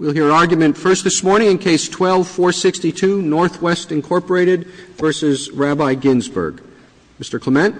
We'll hear argument first this morning in Case 12-462, NW, Inc. v. Rabbi Ginsberg. Mr. Clement.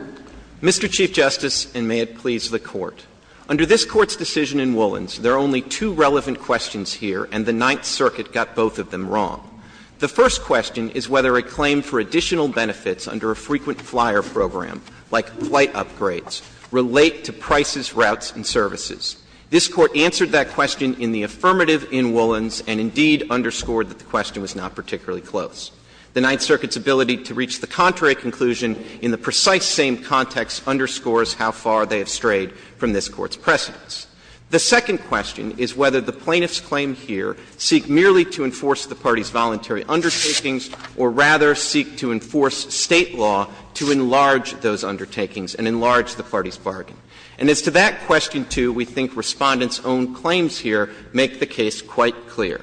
Mr. Chief Justice, and may it please the Court. Under this Court's decision in Woolens, there are only two relevant questions here, and the Ninth Circuit got both of them wrong. The first question is whether a claim for additional benefits under a frequent flyer program, like flight upgrades, relate to prices, routes, and services. This Court answered that question in the affirmative in Woolens and indeed underscored that the question was not particularly close. The Ninth Circuit's ability to reach the contrary conclusion in the precise same context underscores how far they have strayed from this Court's precedence. The second question is whether the plaintiffs' claim here seek merely to enforce the parties' voluntary undertakings or rather seek to enforce State law to enlarge those undertakings and enlarge the parties' bargain. And as to that question, too, we think Respondent's own claims here make the case quite clear.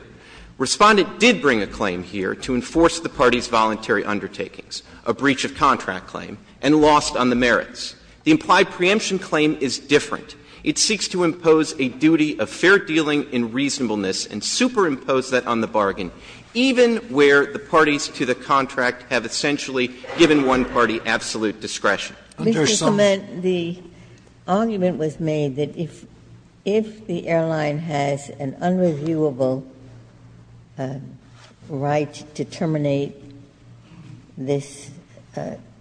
Respondent did bring a claim here to enforce the parties' voluntary undertakings, a breach of contract claim, and lost on the merits. The implied preemption claim is different. It seeks to impose a duty of fair dealing in reasonableness and superimpose that on the bargain, even where the parties to the contract have essentially given one party absolute discretion. But there's some— Ginsburg— Mr. Clement, the argument was made that if the airline has an unreviewable right to terminate this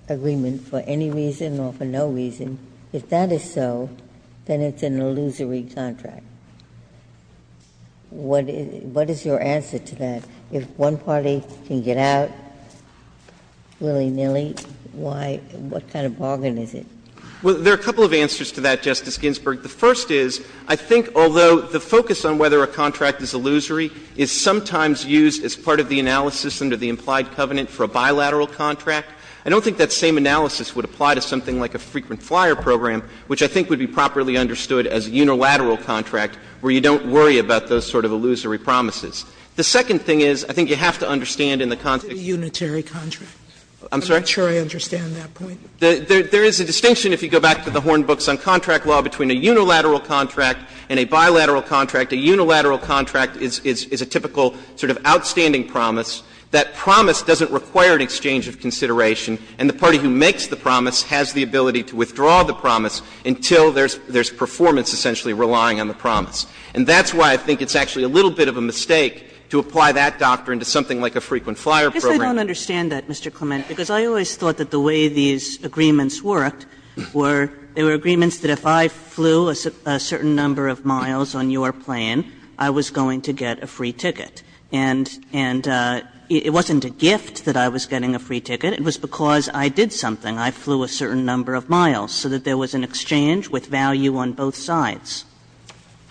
agreement for any reason or for no reason, if that is so, then it's an illusory contract. What is your answer to that? If one party can get out willy-nilly, why? What kind of bargain is it? Well, there are a couple of answers to that, Justice Ginsburg. The first is, I think although the focus on whether a contract is illusory is sometimes used as part of the analysis under the implied covenant for a bilateral contract, I don't think that same analysis would apply to something like a frequent flyer program, which I think would be properly understood as a unilateral contract where you don't worry about those sort of illusory promises. The second thing is, I think you have to understand in the context— It's a unitary contract. I'm sorry? I'm not sure I understand that point. There is a distinction, if you go back to the Horn books on contract law, between a unilateral contract and a bilateral contract. A unilateral contract is a typical sort of outstanding promise. That promise doesn't require an exchange of consideration, and the party who makes the promise has the ability to withdraw the promise until there's performance essentially relying on the promise. And that's why I think it's actually a little bit of a mistake to apply that doctrine to something like a frequent flyer program. I guess I don't understand that, Mr. Clement, because I always thought that the way these agreements worked were they were agreements that if I flew a certain number of miles on your plane, I was going to get a free ticket. And it wasn't a gift that I was getting a free ticket. It was because I did something. I flew a certain number of miles so that there was an exchange with value on both sides.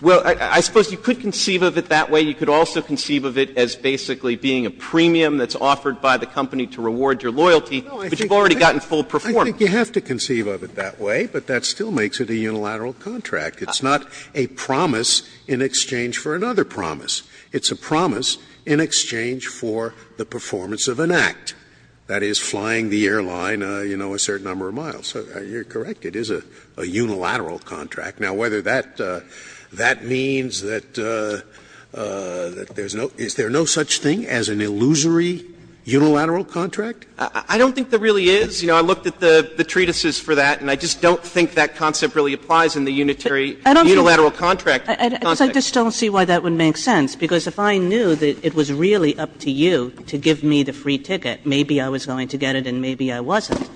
Well, I suppose you could conceive of it that way. You could also conceive of it as basically being a premium that's offered by the company to reward your loyalty, but you've already gotten full performance. I think you have to conceive of it that way, but that still makes it a unilateral contract. It's not a promise in exchange for another promise. It's a promise in exchange for the performance of an act. That is, flying the airline, you know, a certain number of miles. You're correct. It is a unilateral contract. Now, whether that means that there's no – is there no such thing as an illusory unilateral contract? I don't think there really is. You know, I looked at the treatises for that, and I just don't think that concept really applies in the unitary unilateral contract context. I just don't see why that would make sense, because if I knew that it was really up to you to give me the free ticket, maybe I was going to get it and maybe I wasn't.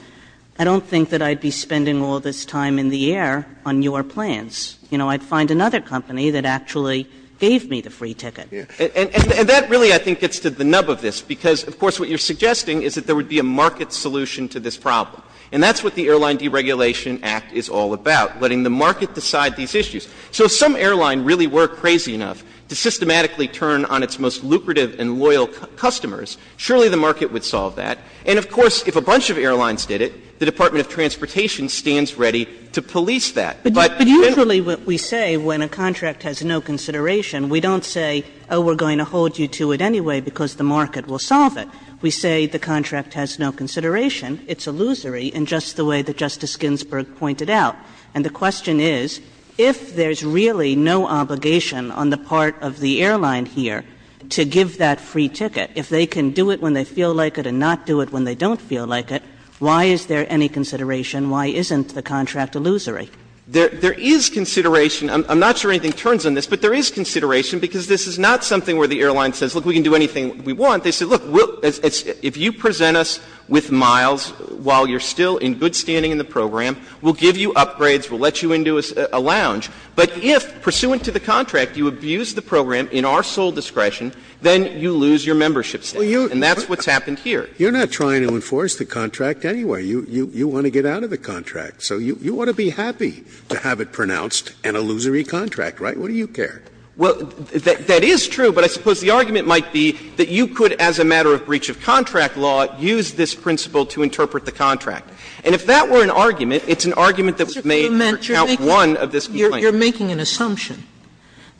I don't think that I'd be spending all this time in the air on your plans. You know, I'd find another company that actually gave me the free ticket. And that really, I think, gets to the nub of this, because, of course, what you're suggesting is that there would be a market solution to this problem. And that's what the Airline Deregulation Act is all about, letting the market decide these issues. So if some airline really were crazy enough to systematically turn on its most lucrative and loyal customers, surely the market would solve that. And, of course, if a bunch of airlines did it, the Department of Transportation stands ready to police that. But generally we say when a contract has no consideration, we don't say, oh, we're going to hold you to it anyway because the market will solve it. We say the contract has no consideration. It's illusory in just the way that Justice Ginsburg pointed out. And the question is, if there's really no obligation on the part of the airline here to give that free ticket, if they can do it when they feel like it and not do it when they don't feel like it, why is there any consideration? Why isn't the contract illusory? There is consideration. I'm not sure anything turns on this, but there is consideration, because this is not something where the airline says, look, we can do anything we want. They say, look, if you present us with miles while you're still in good standing in the program, we'll give you upgrades, we'll let you into a lounge. But if, pursuant to the contract, you abuse the program in our sole discretion, then you lose your membership status. And that's what's happened here. Scalia, you're not trying to enforce the contract anyway. You want to get out of the contract. So you want to be happy to have it pronounced an illusory contract, right? What do you care? Well, that is true, but I suppose the argument might be that you could, as a matter of breach of contract law, use this principle to interpret the contract. And if that were an argument, it's an argument that may count one of this complaint. Sotomayor, you're making an assumption.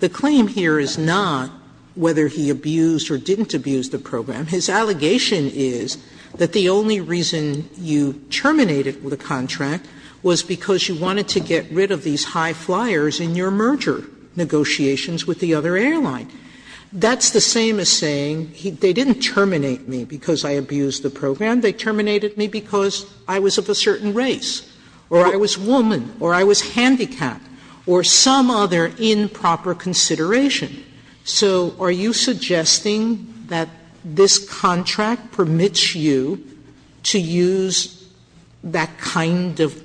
The claim here is not whether he abused or didn't abuse the program. His allegation is that the only reason you terminated the contract was because you wanted to get rid of these high flyers in your merger negotiations with the other airline. That's the same as saying they didn't terminate me because I abused the program. They terminated me because I was of a certain race, or I was woman, or I was handicapped, or some other improper consideration. So are you suggesting that this contract permits you to use that kind of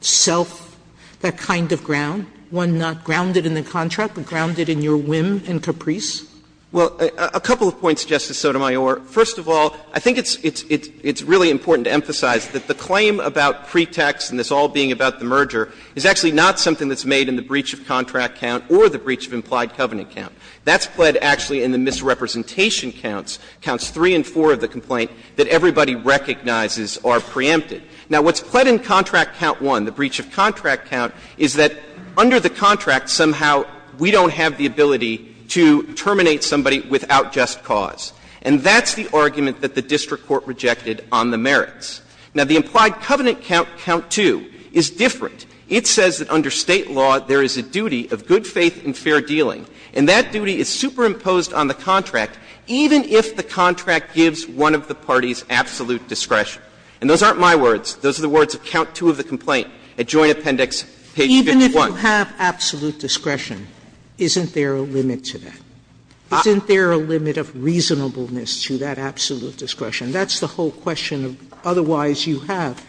self, that kind of ground, one not grounded in the contract, but grounded in your whim and caprice? Well, a couple of points, Justice Sotomayor. First of all, I think it's really important to emphasize that the claim about pretext and this all being about the merger is actually not something that's made in the breach of contract count or the breach of implied covenant count. That's pled actually in the misrepresentation counts, counts 3 and 4 of the complaint, that everybody recognizes are preempted. Now, what's pled in contract count 1, the breach of contract count, is that under the contract somehow we don't have the ability to terminate somebody without just cause. And that's the argument that the district court rejected on the merits. Now, the implied covenant count, count 2, is different. It says that under State law there is a duty of good faith and fair dealing, and that duty is superimposed on the contract even if the contract gives one of the parties absolute discretion. And those aren't my words. Those are the words of count 2 of the complaint at Joint Appendix page 51. Even if you have absolute discretion, isn't there a limit to that? Isn't there a limit of reasonableness to that absolute discretion? That's the whole question of otherwise you have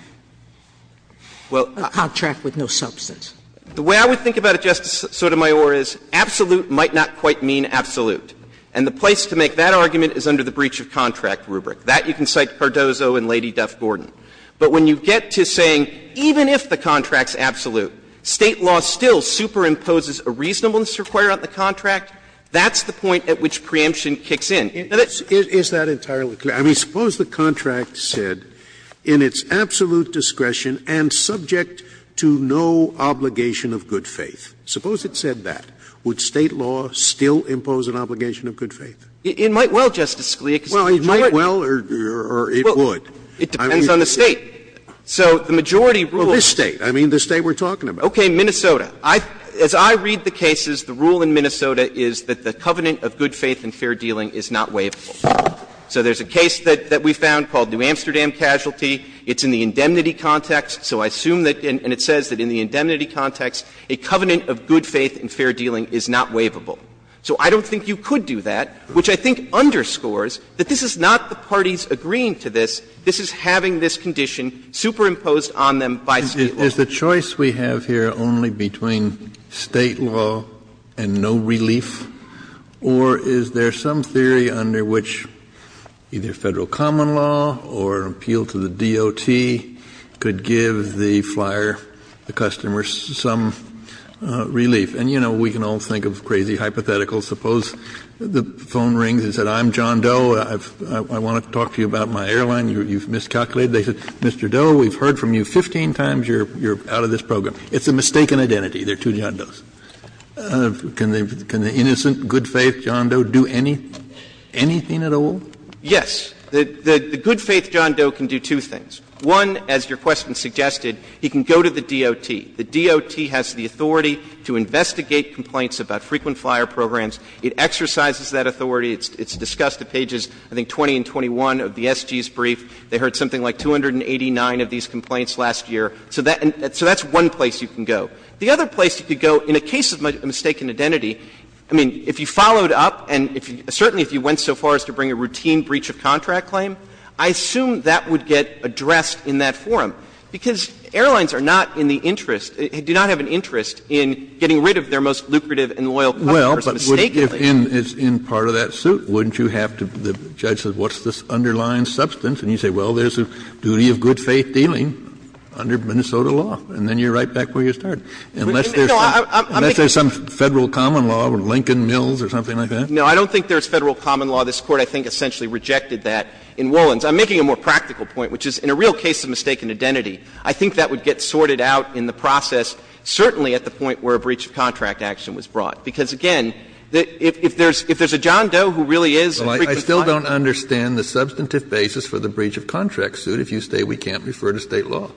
a contract with no substance. The way I would think about it, Justice Sotomayor, is absolute might not quite mean absolute. And the place to make that argument is under the breach of contract rubric. That you can cite Cardozo and Lady Duff-Gordon. But when you get to saying even if the contract's absolute, State law still superimposes a reasonableness required on the contract, that's the point at which preemption Now, that's the point at which preemption kicks in. Scalia. Now, suppose the contract said in its absolute discretion and subject to no obligation of good faith. Suppose it said that. Would State law still impose an obligation of good faith? It might well, Justice Scalia. Well, it might well or it would. It depends on the State. So the majority rules. Well, this State. I mean the State we're talking about. Okay. Minnesota. As I read the cases, the rule in Minnesota is that the covenant of good faith and fair dealing is not waivable. So there's a case that we found called New Amsterdam Casualty. It's in the indemnity context. So I assume that, and it says that in the indemnity context, a covenant of good faith and fair dealing is not waivable. So I don't think you could do that, which I think underscores that this is not the parties agreeing to this. This is having this condition superimposed on them by State law. Kennedy. Is the choice we have here only between State law and no relief? Or is there some theory under which either Federal common law or appeal to the DOT could give the flyer, the customer, some relief? And, you know, we can all think of crazy hypotheticals. Suppose the phone rings and says, I'm John Doe. I want to talk to you about my airline. You've miscalculated. They said, Mr. Doe, we've heard from you 15 times. You're out of this program. It's a mistaken identity. There are two John Does. Can the innocent, good-faith John Doe do anything at all? Yes. The good-faith John Doe can do two things. One, as your question suggested, he can go to the DOT. The DOT has the authority to investigate complaints about frequent flyer programs. It exercises that authority. It's discussed at pages, I think, 20 and 21 of the SG's brief. They heard something like 289 of these complaints last year. So that's one place you can go. The other place you could go in a case of mistaken identity, I mean, if you followed up and if you – certainly if you went so far as to bring a routine breach of contract claim, I assume that would get addressed in that forum, because airlines are not in the interest – do not have an interest in getting rid of their most lucrative and loyal customers mistakenly. Kennedy, in part of that suit, wouldn't you have to – the judge said, what's this underlying substance? And you say, well, there's a duty of good-faith dealing under Minnesota law. And then you're right back where you started. Unless there's some Federal common law or Lincoln Mills or something like that? No, I don't think there's Federal common law. This Court, I think, essentially rejected that in Woollens. I'm making a more practical point, which is in a real case of mistaken identity, I think that would get sorted out in the process, certainly at the point where a breach of contract action was brought. Because, again, if there's a John Doe who really is a frequent flyer. Well, I still don't understand the substantive basis for the breach of contract suit if you say we can't refer to State law.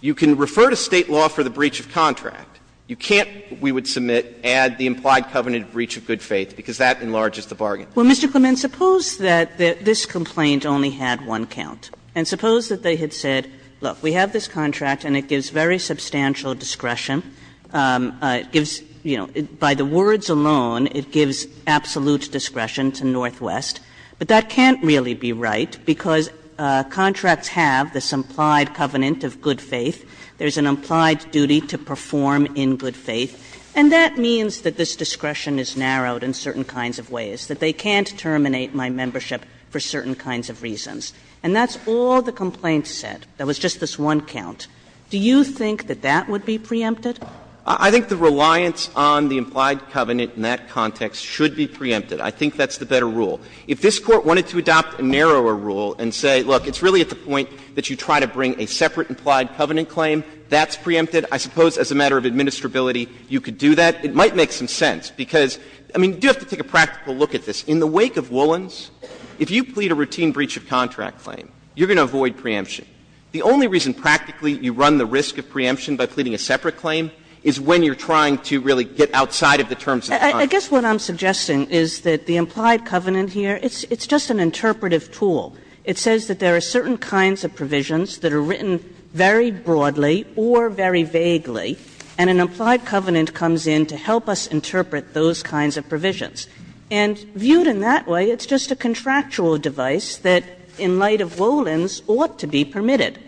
You can refer to State law for the breach of contract. You can't, we would submit, add the implied covenant of breach of good faith, because that enlarges the bargain. Well, Mr. Clement, suppose that this complaint only had one count. And suppose that they had said, look, we have this contract and it gives very substantial discretion. It gives, you know, by the words alone, it gives absolute discretion to Northwest. But that can't really be right, because contracts have this implied covenant of good faith. There's an implied duty to perform in good faith. And that means that this discretion is narrowed in certain kinds of ways, that they can't terminate my membership for certain kinds of reasons. And that's all the complaint said. There was just this one count. Do you think that that would be preempted? Clement, I think the reliance on the implied covenant in that context should be preempted. I think that's the better rule. If this Court wanted to adopt a narrower rule and say, look, it's really at the point that you try to bring a separate implied covenant claim, that's preempted. I suppose as a matter of administrability, you could do that. It might make some sense, because, I mean, you do have to take a practical look at this. In the wake of Woolens, if you plead a routine breach of contract claim, you're going to avoid preemption. The only reason practically you run the risk of preemption by pleading a separate I guess what I'm suggesting is that the implied covenant here, it's just an interpretive tool. It says that there are certain kinds of provisions that are written very broadly or very vaguely, and an implied covenant comes in to help us interpret those kinds of provisions. And viewed in that way, it's just a contractual device that, in light of Woolens, ought to be permitted.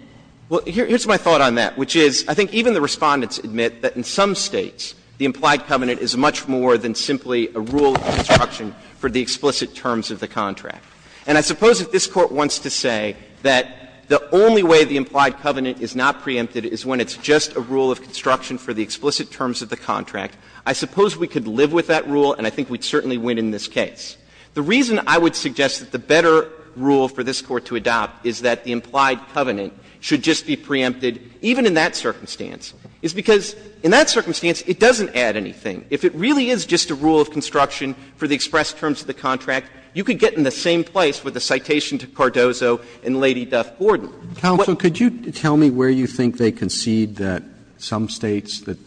Well, here's my thought on that, which is I think even the Respondents admit that in some States, the implied covenant is much more than simply a rule of construction for the explicit terms of the contract. And I suppose if this Court wants to say that the only way the implied covenant is not preempted is when it's just a rule of construction for the explicit terms of the contract, I suppose we could live with that rule, and I think we'd certainly win in this case. The reason I would suggest that the better rule for this Court to adopt is that the implied covenant should just be preempted even in that circumstance is because in that circumstance, it doesn't add anything. If it really is just a rule of construction for the express terms of the contract, you could get in the same place with the citation to Cardozo and Lady Duff Gordon. Roberts, could you tell me where you think they concede that some States, that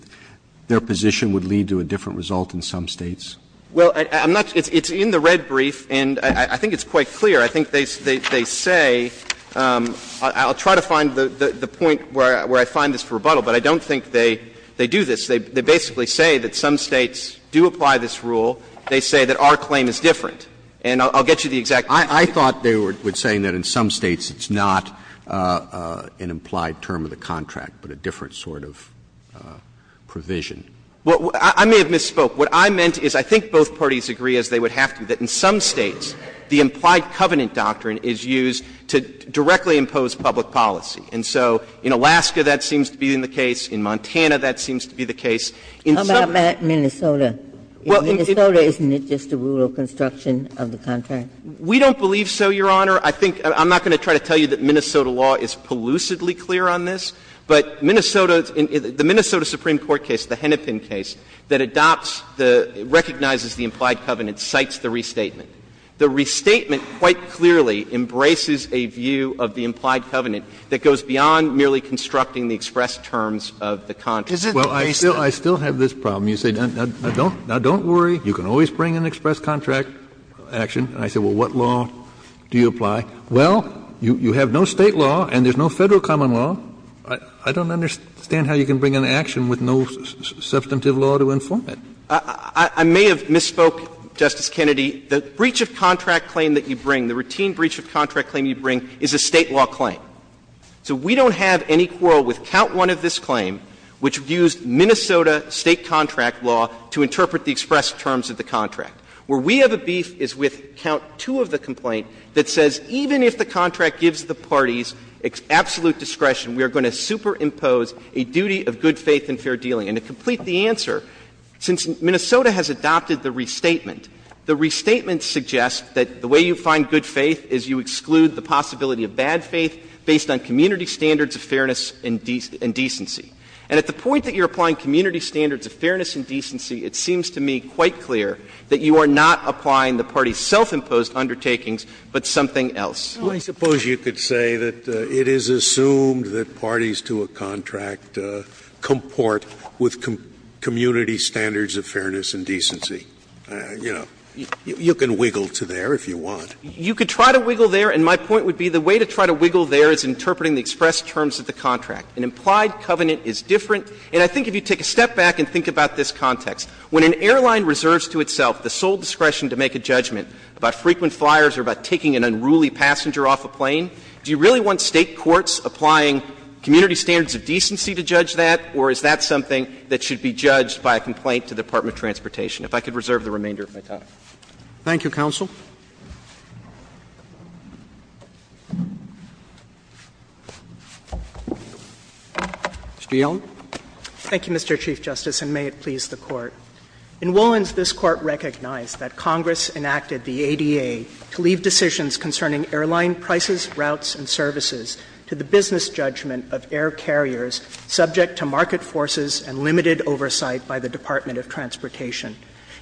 their position would lead to a different result in some States? Well, I'm not going to do that. It's in the red brief, and I think it's quite clear. I think they say, I'll try to find the point where I find this rebuttal, but I don't think they do this. They basically say that some States do apply this rule. They say that our claim is different. And I'll get you the exact point. I thought they were saying that in some States it's not an implied term of the contract, but a different sort of provision. Well, I may have misspoke. What I meant is I think both parties agree, as they would have to, that in some States the implied covenant doctrine is used to directly impose public policy. And so in Alaska that seems to be in the case. In Montana that seems to be the case. In some other States it's not. How about Minnesota? In Minnesota, isn't it just a rule of construction of the contract? We don't believe so, Your Honor. I think — I'm not going to try to tell you that Minnesota law is pellucidly clear on this, but Minnesota's — the Minnesota Supreme Court case, the Hennepin case, that adopts the — recognizes the implied covenant, cites the restatement. The restatement quite clearly embraces a view of the implied covenant that goes beyond merely constructing the express terms of the contract. Kennedy, I still have this problem. You say, now don't worry. You can always bring an express contract action. And I say, well, what law do you apply? Well, you have no State law and there's no Federal common law. I don't understand how you can bring an action with no substantive law to inform it. I may have misspoke, Justice Kennedy. The breach of contract claim that you bring, the routine breach of contract claim you bring, is a State law claim. So we don't have any quarrel with count one of this claim, which used Minnesota State contract law to interpret the express terms of the contract, where we have a beef is with count two of the complaint that says even if the contract gives the parties absolute discretion, we are going to superimpose a duty of good faith and fair dealing. And to complete the answer, since Minnesota has adopted the restatement, the restatement suggests that the way you find good faith is you exclude the possibility of bad faith based on community standards of fairness and decency. And at the point that you're applying community standards of fairness and decency, it seems to me quite clear that you are not applying the parties' self-imposed undertakings, but something else. Scalia, I suppose you could say that it is assumed that parties to a contract comport with community standards of fairness and decency. You know, you can wiggle to there if you want. You could try to wiggle there, and my point would be the way to try to wiggle there is interpreting the express terms of the contract. An implied covenant is different, and I think if you take a step back and think about this context, when an airline reserves to itself the sole discretion to make a judgment about frequent flyers or about taking an unruly passenger off a plane, do you really want State courts applying community standards of decency to judge that, or is that something that should be judged by a complaint to the Department of Transportation? If I could reserve the remainder of my time. Thank you, counsel. Mr. Yellen. Thank you, Mr. Chief Justice, and may it please the Court. In Wolins, this Court recognized that Congress enacted the ADA to leave decisions concerning airline prices, routes, and services to the business judgment of air carriers subject to market forces and limited oversight by the Department of Transportation.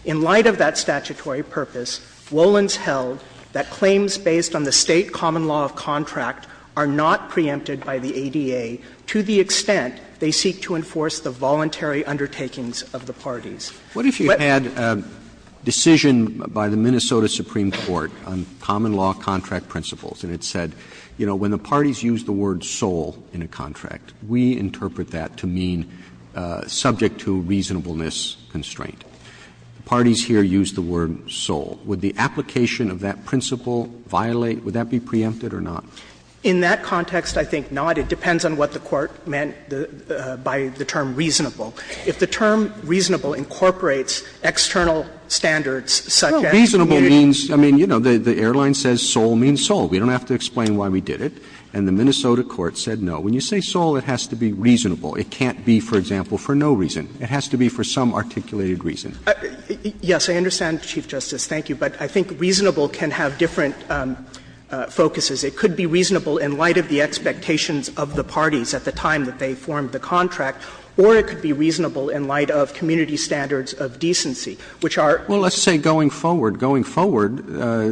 In light of that statutory purpose, Wolins held that claims based on the State common law of contract are not preempted by the ADA to the extent they seek to enforce the voluntary undertakings of the parties. What if you had a decision by the Minnesota Supreme Court on common law contract principles, and it said, you know, when the parties use the word sole in a contract, we interpret that to mean subject to reasonableness constraint. Parties here use the word sole. Would the application of that principle violate? Would that be preempted or not? In that context, I think not. It depends on what the Court meant by the term reasonable. If the term reasonable incorporates external standards, such as communication standards. Well, reasonable means, I mean, you know, the airline says sole means sole. We don't have to explain why we did it. And the Minnesota court said no. When you say sole, it has to be reasonable. It can't be, for example, for no reason. It has to be for some articulated reason. Yes, I understand, Chief Justice. Thank you. But I think reasonable can have different focuses. It could be reasonable in light of the expectations of the parties at the time that they formed the contract, or it could be reasonable in light of community standards of decency, which are. Well, let's say going forward. Going forward,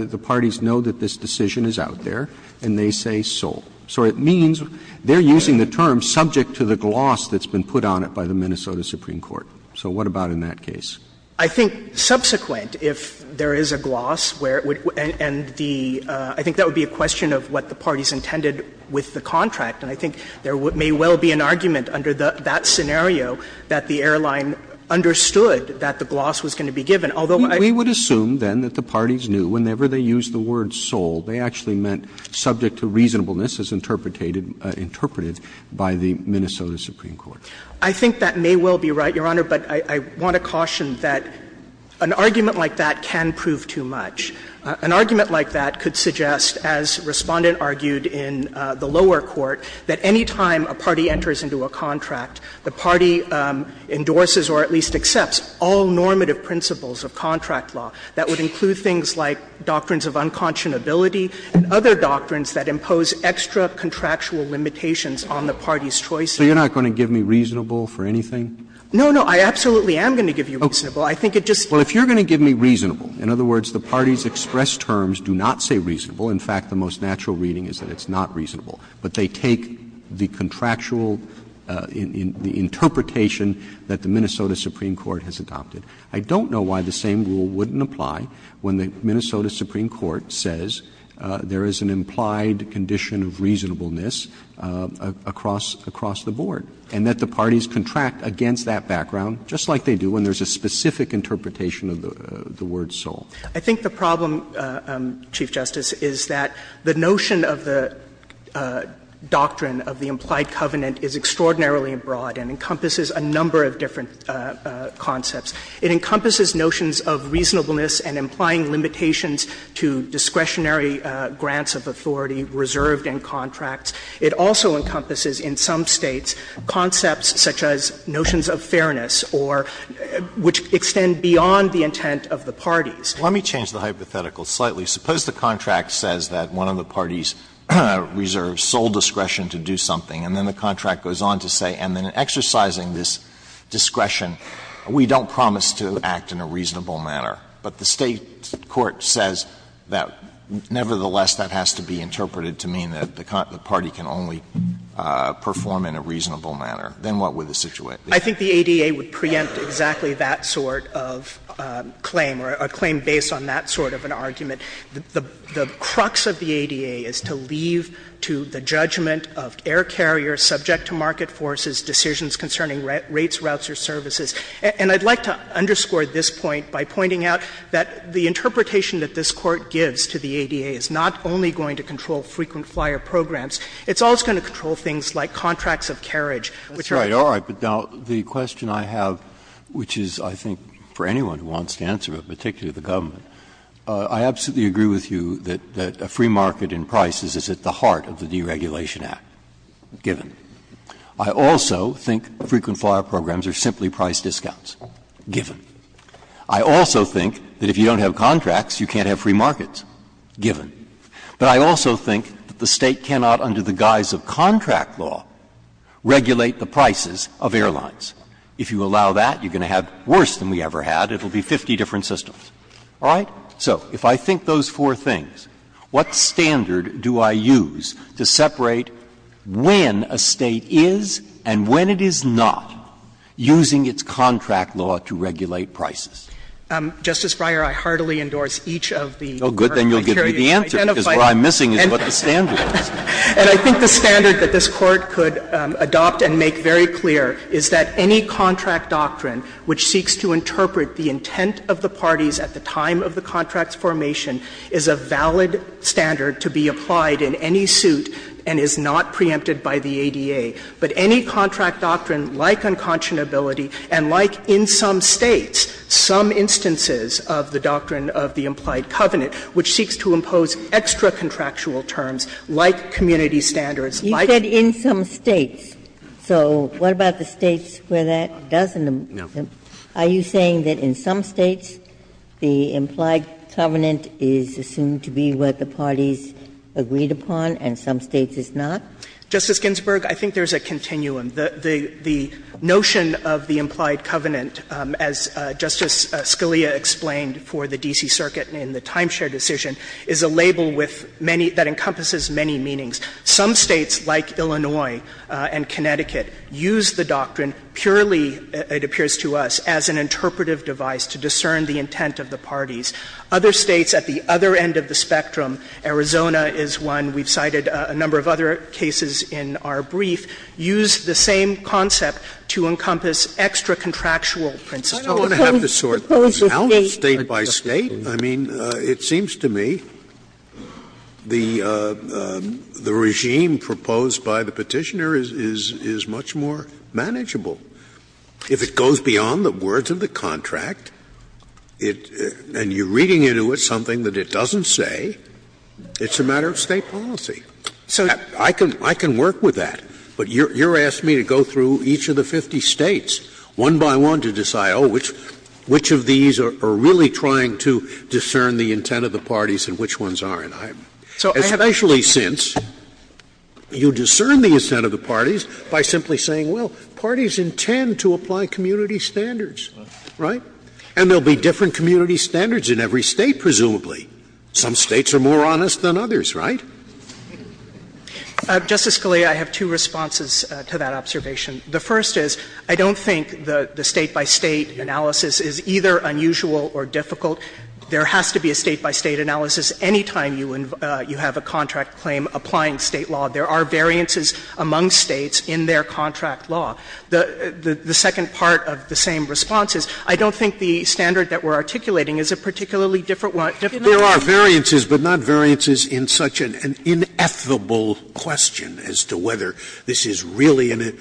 the parties know that this decision is out there, and they say sole. So it means they're using the term subject to the gloss that's been put on it by the Minnesota Supreme Court. So what about in that case? I think subsequent, if there is a gloss where it would end the — I think that would be a question of what the parties intended with the contract. And I think there may well be an argument under that scenario that the airline understood that the gloss was going to be given, although I. We would assume, then, that the parties knew whenever they used the word sole, they actually meant subject to reasonableness as interpreted by the Minnesota Supreme Court. I think that may well be right, Your Honor. But I want to caution that an argument like that can prove too much. An argument like that could suggest, as Respondent argued in the lower court, that any time a party enters into a contract, the party endorses or at least accepts all normative principles of contract law that would include things like doctrines of unconscionability and other doctrines that impose extra contractual limitations on the party's choices. So you're not going to give me reasonable for anything? No, no. I absolutely am going to give you reasonable. I think it just. Well, if you're going to give me reasonable, in other words, the parties express terms, do not say reasonable. In fact, the most natural reading is that it's not reasonable. But they take the contractual interpretation that the Minnesota Supreme Court has adopted. I don't know why the same rule wouldn't apply when the Minnesota Supreme Court says there is an implied condition of reasonableness across the board and that the implication of the word solved. I think the problem, Chief Justice, is that the notion of the doctrine of the implied covenant is extraordinarily broad and encompasses a number of different concepts. It encompasses notions of reasonableness and implying limitations to discretionary grants of authority reserved in contracts. It also encompasses in some States concepts such as notions of fairness or which extend beyond the intent of the parties. Well, let me change the hypothetical slightly. Suppose the contract says that one of the parties reserves sole discretion to do something, and then the contract goes on to say, and then in exercising this discretion, we don't promise to act in a reasonable manner. But the State court says that nevertheless that has to be interpreted to mean that the party can only perform in a reasonable manner. Then what would the situation be? I think the ADA would preempt exactly that sort of claim or a claim based on that sort of an argument. The crux of the ADA is to leave to the judgment of air carriers subject to market forces decisions concerning rates, routes, or services. And I'd like to underscore this point by pointing out that the interpretation that this Court gives to the ADA is not only going to control frequent flyer programs, it's also going to control things like contracts of carriage. Breyer. That's right. All right. But now, the question I have, which is, I think, for anyone who wants to answer it, particularly the government, I absolutely agree with you that a free market in prices is at the heart of the Deregulation Act, given. I also think frequent flyer programs are simply price discounts, given. I also think that if you don't have contracts, you can't have free markets, given. But I also think that the State cannot, under the guise of contract law, regulate the prices of airlines. If you allow that, you're going to have worse than we ever had. It will be 50 different systems. All right? So if I think those four things, what standard do I use to separate when a State is and when it is not using its contract law to regulate prices? Justice Breyer, I heartily endorse each of the current criteria. Well, good. Then you'll give me the answer, because what I'm missing is what the standard is. And I think the standard that this Court could adopt and make very clear is that any contract doctrine which seeks to interpret the intent of the parties at the time of the contract's formation is a valid standard to be applied in any suit and is not preempted by the ADA. But any contract doctrine, like unconscionability, and like in some States, some instances of the doctrine of the implied covenant, which seeks to impose extra-contractual terms like community standards, like. Ginsburg. You said in some States. So what about the States where that doesn't? No. Are you saying that in some States the implied covenant is assumed to be what the parties agreed upon and some States it's not? Justice Ginsburg, I think there's a continuum. The notion of the implied covenant, as Justice Scalia explained for the D.C. Circuit in the timeshare decision, is a label with many — that encompasses many meanings. Some States, like Illinois and Connecticut, use the doctrine purely, it appears to us, as an interpretive device to discern the intent of the parties. Other States at the other end of the spectrum, Arizona is one. We've cited a number of other cases in our brief. Use the same concept to encompass extra-contractual principles. I don't want to have to sort these out State by State. I mean, it seems to me the regime proposed by the Petitioner is much more manageable. If it goes beyond the words of the contract, and you're reading into it something that it doesn't say, it's a matter of State policy. So I can work with that. But you're asking me to go through each of the 50 States, one by one, to decide, oh, which of these are really trying to discern the intent of the parties and which ones aren't. Especially since you discern the intent of the parties by simply saying, well, parties intend to apply community standards, right? And there will be different community standards in every State, presumably. Some States are more honest than others, right? Kagan. Justice Scalia, I have two responses to that observation. The first is, I don't think the State by State analysis is either unusual or difficult. There has to be a State by State analysis any time you have a contract claim applying State law. There are variances among States in their contract law. The second part of the same response is, I don't think the standard that we're articulating is a particularly different one. There are variances, but not variances in such an ineffable question as to whether this is really an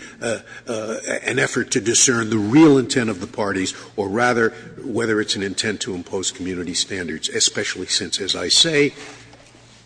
effort to discern the real intent of the parties, or rather whether it's an intent to impose community standards, especially since, as I say,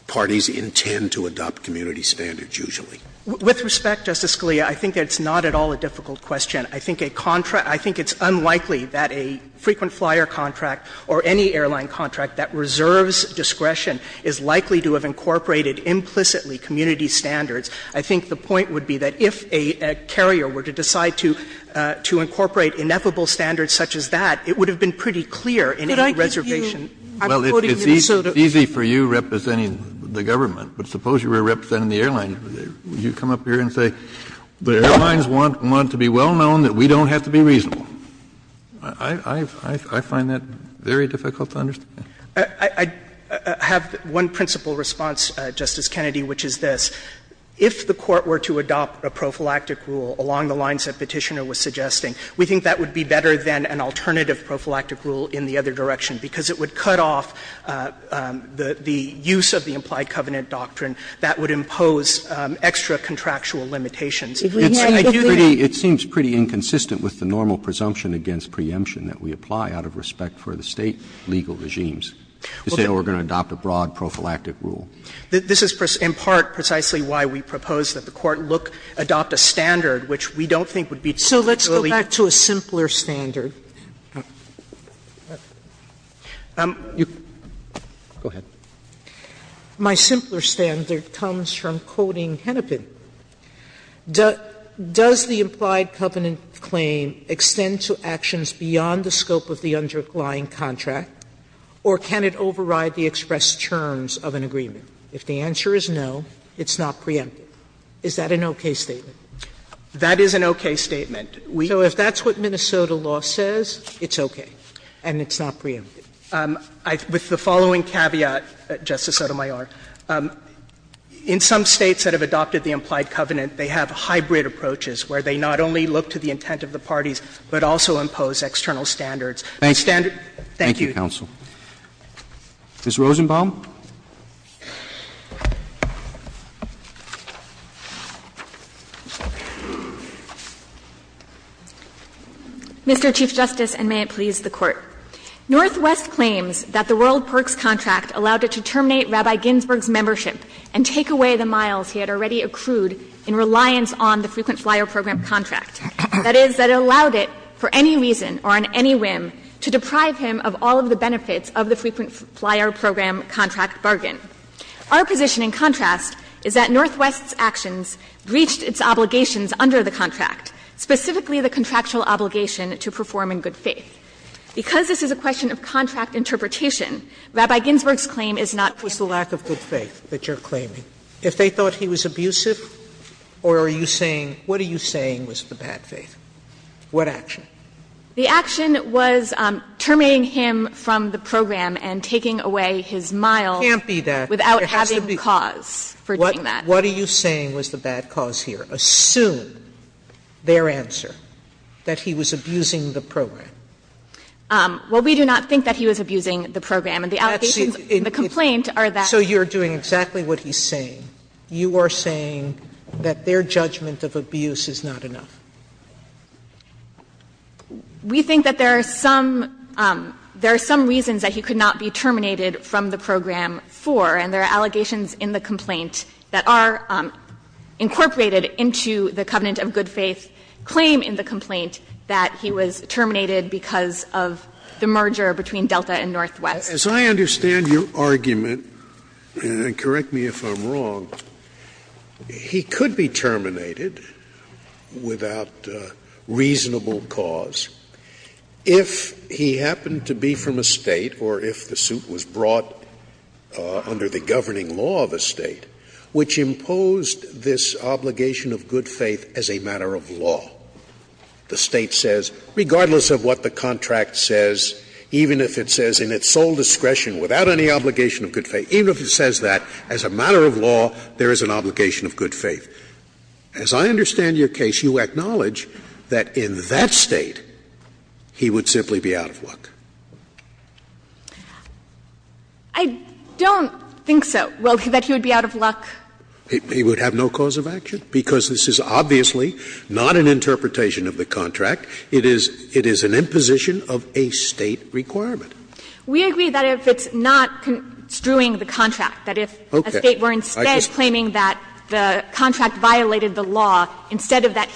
parties intend to adopt community standards usually. With respect, Justice Scalia, I think that's not at all a difficult question. I think a contract – I think it's unlikely that a frequent flyer contract or any airline contract that reserves discretion is likely to have incorporated implicitly community standards. I think the point would be that if a carrier were to decide to incorporate ineffable standards such as that, it would have been pretty clear in any reservation. Kennedy, I'm quoting Minnesota. Kennedy, well, it's easy for you representing the government, but suppose you were representing the airline. Would you come up here and say, the airlines want to be well known that we don't have to be reasonable? I find that very difficult to understand. I have one principal response, Justice Kennedy, which is this. If the Court were to adopt a prophylactic rule along the lines that Petitioner was suggesting, we think that would be better than an alternative prophylactic rule in the other direction, because it would cut off the use of the implied covenant doctrine that would impose extra contractual limitations. It seems pretty inconsistent with the normal presumption against preemption that we apply out of respect for the State legal regimes to say, oh, we're going to adopt a broad prophylactic rule. This is in part precisely why we propose that the Court look, adopt a standard which we don't think would be adequately. Sotomayor, so let's go back to a simpler standard. My simpler standard comes from quoting Hennepin. Does the implied covenant claim extend to actions beyond the scope of the underlying contract, or can it override the expressed terms of an agreement? If the answer is no, it's not preempted. Is that an okay statement? That is an okay statement. So if that's what Minnesota law says, it's okay and it's not preempted. With the following caveat, Justice Sotomayor, in some States that have adopted the implied covenant, they have hybrid approaches where they not only look to the intent of the parties, but also impose external standards. Thank you, counsel. Ms. Rosenbaum. Ms. Rosenbaum. Mr. Chief Justice, and may it please the Court. Northwest claims that the World Perks Contract allowed it to terminate Rabbi Ginsburg's on the Frequent Flyer Program contract, that is, that it allowed it for any reason or on any whim to deprive him of all of the benefits of the Frequent Flyer Program contract bargain. Our position, in contrast, is that Northwest's actions breached its obligations under the contract, specifically the contractual obligation to perform in good faith. Because this is a question of contract interpretation, Rabbi Ginsburg's claim is not true. Sotomayor, what is the lack of good faith that you're claiming? If they thought he was abusive, or are you saying, what are you saying was the bad faith? What action? The action was terminating him from the program and taking away his mile. It can't be that. Without having cause for doing that. What are you saying was the bad cause here? Assume their answer, that he was abusing the program. Well, we do not think that he was abusing the program. And the allegations in the complaint are that. So you're doing exactly what he's saying. You are saying that their judgment of abuse is not enough. We think that there are some reasons that he could not be terminated from the program for, and there are allegations in the complaint that are incorporated into the covenant of good faith claim in the complaint that he was terminated because of the merger between Delta and Northwest. As I understand your argument, and correct me if I'm wrong, he could be terminated without reasonable cause if he happened to be from a state, or if the suit was brought under the governing law of a state, which imposed this obligation of good faith as a matter of law. The State says, regardless of what the contract says, even if it says in its sole discretion, without any obligation of good faith, even if it says that, as a matter of law, there is an obligation of good faith. As I understand your case, you acknowledge that in that State, he would simply be out of luck. I don't think so. Well, that he would be out of luck. He would have no cause of action, because this is obviously not an interpretation of the contract. It is an imposition of a State requirement. We agree that if it's not construing the contract, that if a State were instead claiming that the contract violated the law, instead of that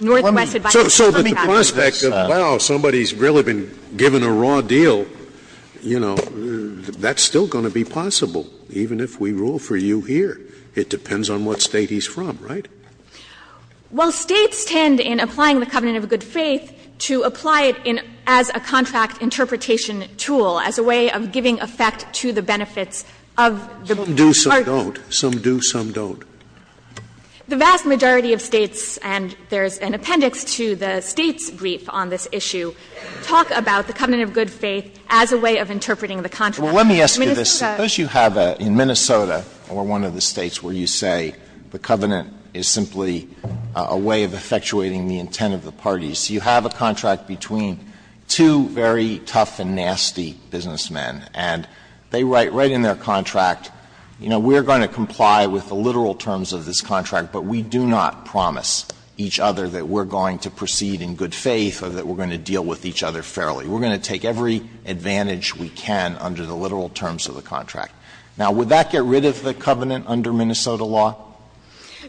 Northwest had violated the contract. So the prospect of, wow, somebody's really been given a raw deal, you know, that's still going to be possible, even if we rule for you here. It depends on what State he's from, right? Well, States tend, in applying the covenant of good faith, to apply it as a contract interpretation tool, as a way of giving effect to the benefits of the contract. Some do, some don't. Some do, some don't. The vast majority of States, and there's an appendix to the State's brief on this issue, talk about the covenant of good faith as a way of interpreting the contract. Let me ask you this. Suppose you have in Minnesota, or one of the States, where you say the covenant is simply a way of effectuating the intent of the parties. You have a contract between two very tough and nasty businessmen, and they write right in their contract, you know, we're going to comply with the literal terms of this contract, but we do not promise each other that we're going to proceed in good faith or that we're going to deal with each other fairly. We're going to take every advantage we can under the literal terms of the contract. Now, would that get rid of the covenant under Minnesota law?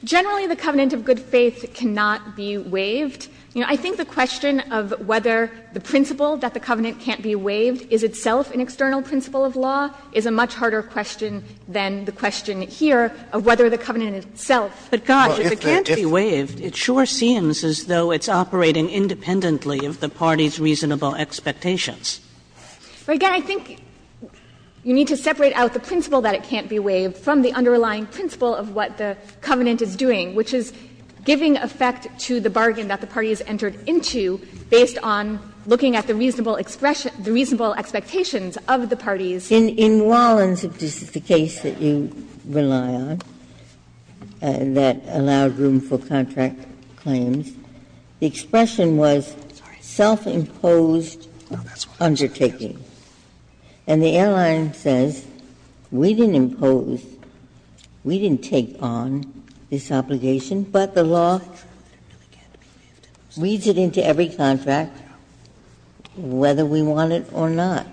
Generally, the covenant of good faith cannot be waived. You know, I think the question of whether the principle that the covenant can't be waived is itself an external principle of law is a much harder question than the question here of whether the covenant itself. But, God, if it can't be waived, it sure seems as though it's operating independently of the party's reasonable expectations. But, again, I think you need to separate out the principle that it can't be waived from the underlying principle of what the covenant is doing, which is giving effect to the bargain that the party has entered into based on looking at the reasonable expression the reasonable expectations of the parties. Ginsburg. In Wallens, if this is the case that you rely on, that allowed room for contract claims, the expression was self-imposed undertaking. And the airline says, we didn't impose, we didn't take on this obligation, but the law reads it into every contract whether we want it or not.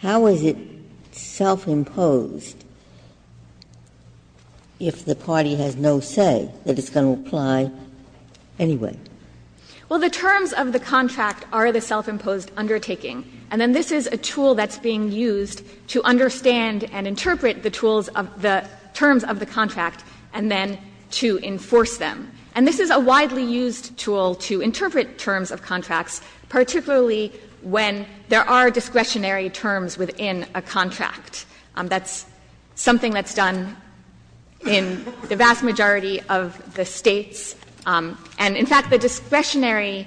How is it self-imposed if the party has no say that it's going to apply to the contract? Anyway. Well, the terms of the contract are the self-imposed undertaking. And then this is a tool that's being used to understand and interpret the tools of the terms of the contract, and then to enforce them. And this is a widely used tool to interpret terms of contracts, particularly when there are discretionary terms within a contract. That's something that's done in the vast majority of the States. And, in fact, the discretionary,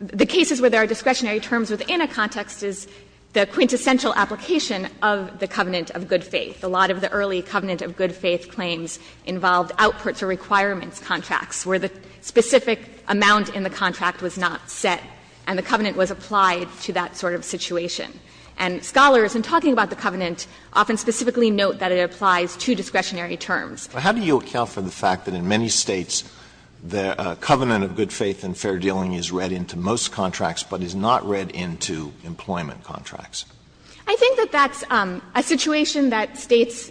the cases where there are discretionary terms within a context is the quintessential application of the covenant of good faith. A lot of the early covenant of good faith claims involved outputs or requirements contracts where the specific amount in the contract was not set and the covenant was applied to that sort of situation. And scholars, in talking about the covenant, often specifically note that it applies to discretionary terms. Alito, how do you account for the fact that in many States the covenant of good faith and fair dealing is read into most contracts, but is not read into employment contracts? I think that that's a situation that States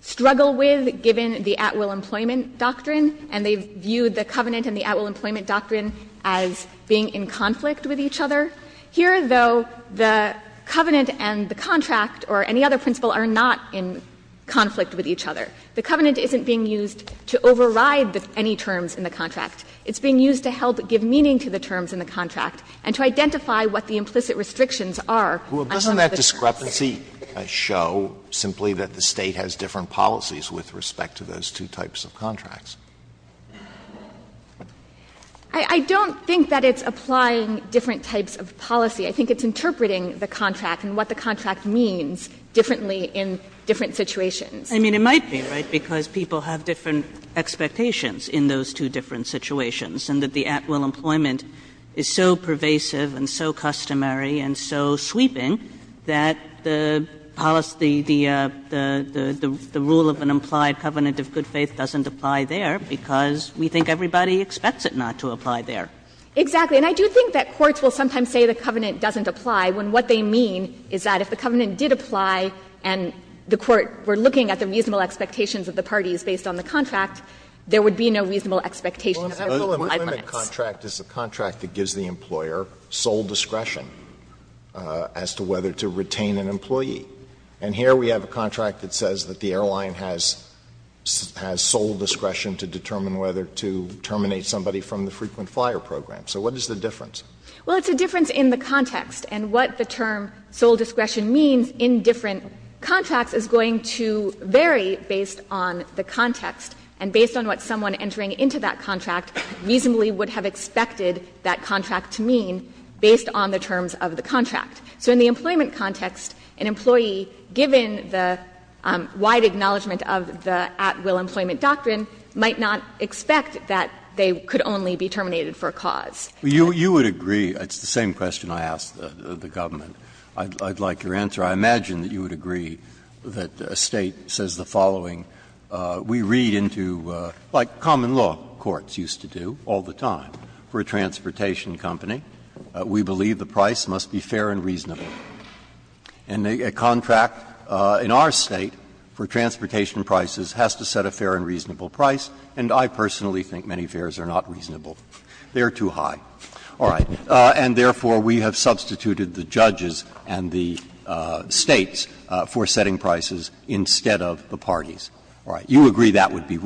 struggle with, given the at-will employment doctrine, and they view the covenant and the at-will employment doctrine as being in conflict with each other. Here, though, the covenant and the contract or any other principle are not in conflict with each other. The covenant isn't being used to override any terms in the contract. It's being used to help give meaning to the terms in the contract and to identify what the implicit restrictions are on some of the terms. Well, doesn't that discrepancy show simply that the State has different policies with respect to those two types of contracts? I don't think that it's applying different types of policy. I think it's interpreting the contract and what the contract means differently in different situations. I mean, it might be, right, because people have different expectations in those two different situations, and that the at-will employment is so pervasive and so customary and so sweeping that the policy, the rule of an implied covenant of good faith doesn't apply there because we think everybody expects it not to apply there. Exactly. And I do think that courts will sometimes say the covenant doesn't apply when what they mean is that if the covenant did apply and the court were looking at the reasonable expectations of the parties based on the contract, there would be no reasonable expectation of the rule of implied limits. Well, an at-will employment contract is a contract that gives the employer sole discretion as to whether to retain an employee. And here we have a contract that says that the airline has sole discretion to determine whether to terminate somebody from the frequent flyer program. So what is the difference? Well, it's a difference in the context. And what the term sole discretion means in different contracts is going to vary based on the context and based on what someone entering into that contract reasonably would have expected that contract to mean based on the terms of the contract. So in the employment context, an employee, given the wide acknowledgment of the at-will employment doctrine, might not expect that they could only be terminated for a cause. You would agree, it's the same question I asked the government, I'd like your answer. I imagine that you would agree that a State says the following. We read into, like common law courts used to do all the time, for a transportation company. We believe the price must be fair and reasonable. And a contract in our State for transportation prices has to set a fair and reasonable price, and I personally think many fares are not reasonable. They are too high. All right. And therefore, we have substituted the judges and the States for setting prices instead of the parties. All right. You agree that would be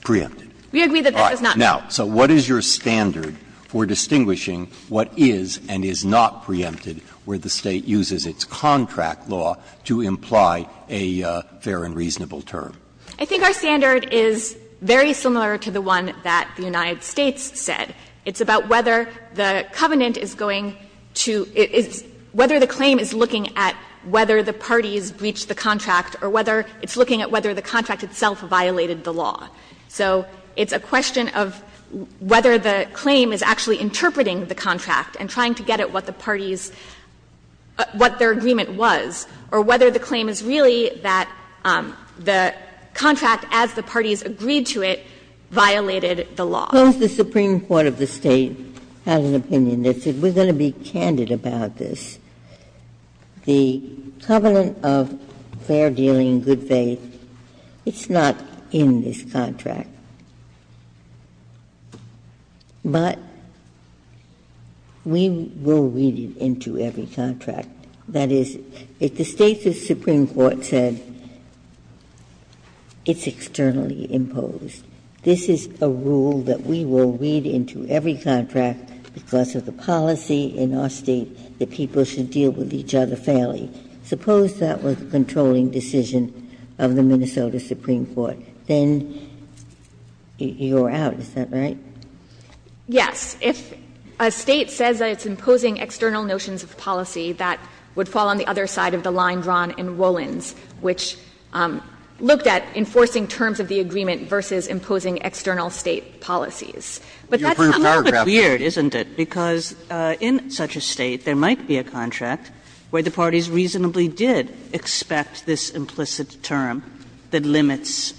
preempted. All right. Now, so what is your standard for distinguishing what is and is not preempted where the State uses its contract law to imply a fair and reasonable term? I think our standard is very similar to the one that the United States said. It's about whether the covenant is going to — whether the claim is looking at whether the parties breached the contract or whether it's looking at whether the contract itself violated the law. So it's a question of whether the claim is actually interpreting the contract and trying to get at what the parties — what their agreement was, or whether the claim is really that the contract, as the parties agreed to it, violated the law. Ginsburg. Suppose the Supreme Court of the State had an opinion that said we're going to be candid about this. The covenant of fair dealing, good faith, it's not in this contract. But we will read it into every contract. That is, if the State's Supreme Court said it's externally imposed, this is a rule that we will read into every contract because of the policy in our State that people should deal with each other fairly. Suppose that was the controlling decision of the Minnesota Supreme Court. Then you're out. Is that right? Yes. If a State says that it's imposing external notions of policy, that would fall on the other side of the line drawn in Rollins, which looked at enforcing terms of the agreement versus imposing external State policies. But that's a little bit weird, isn't it, because in such a State there might be a kind of a contract where the parties reasonably did expect this implicit term that limits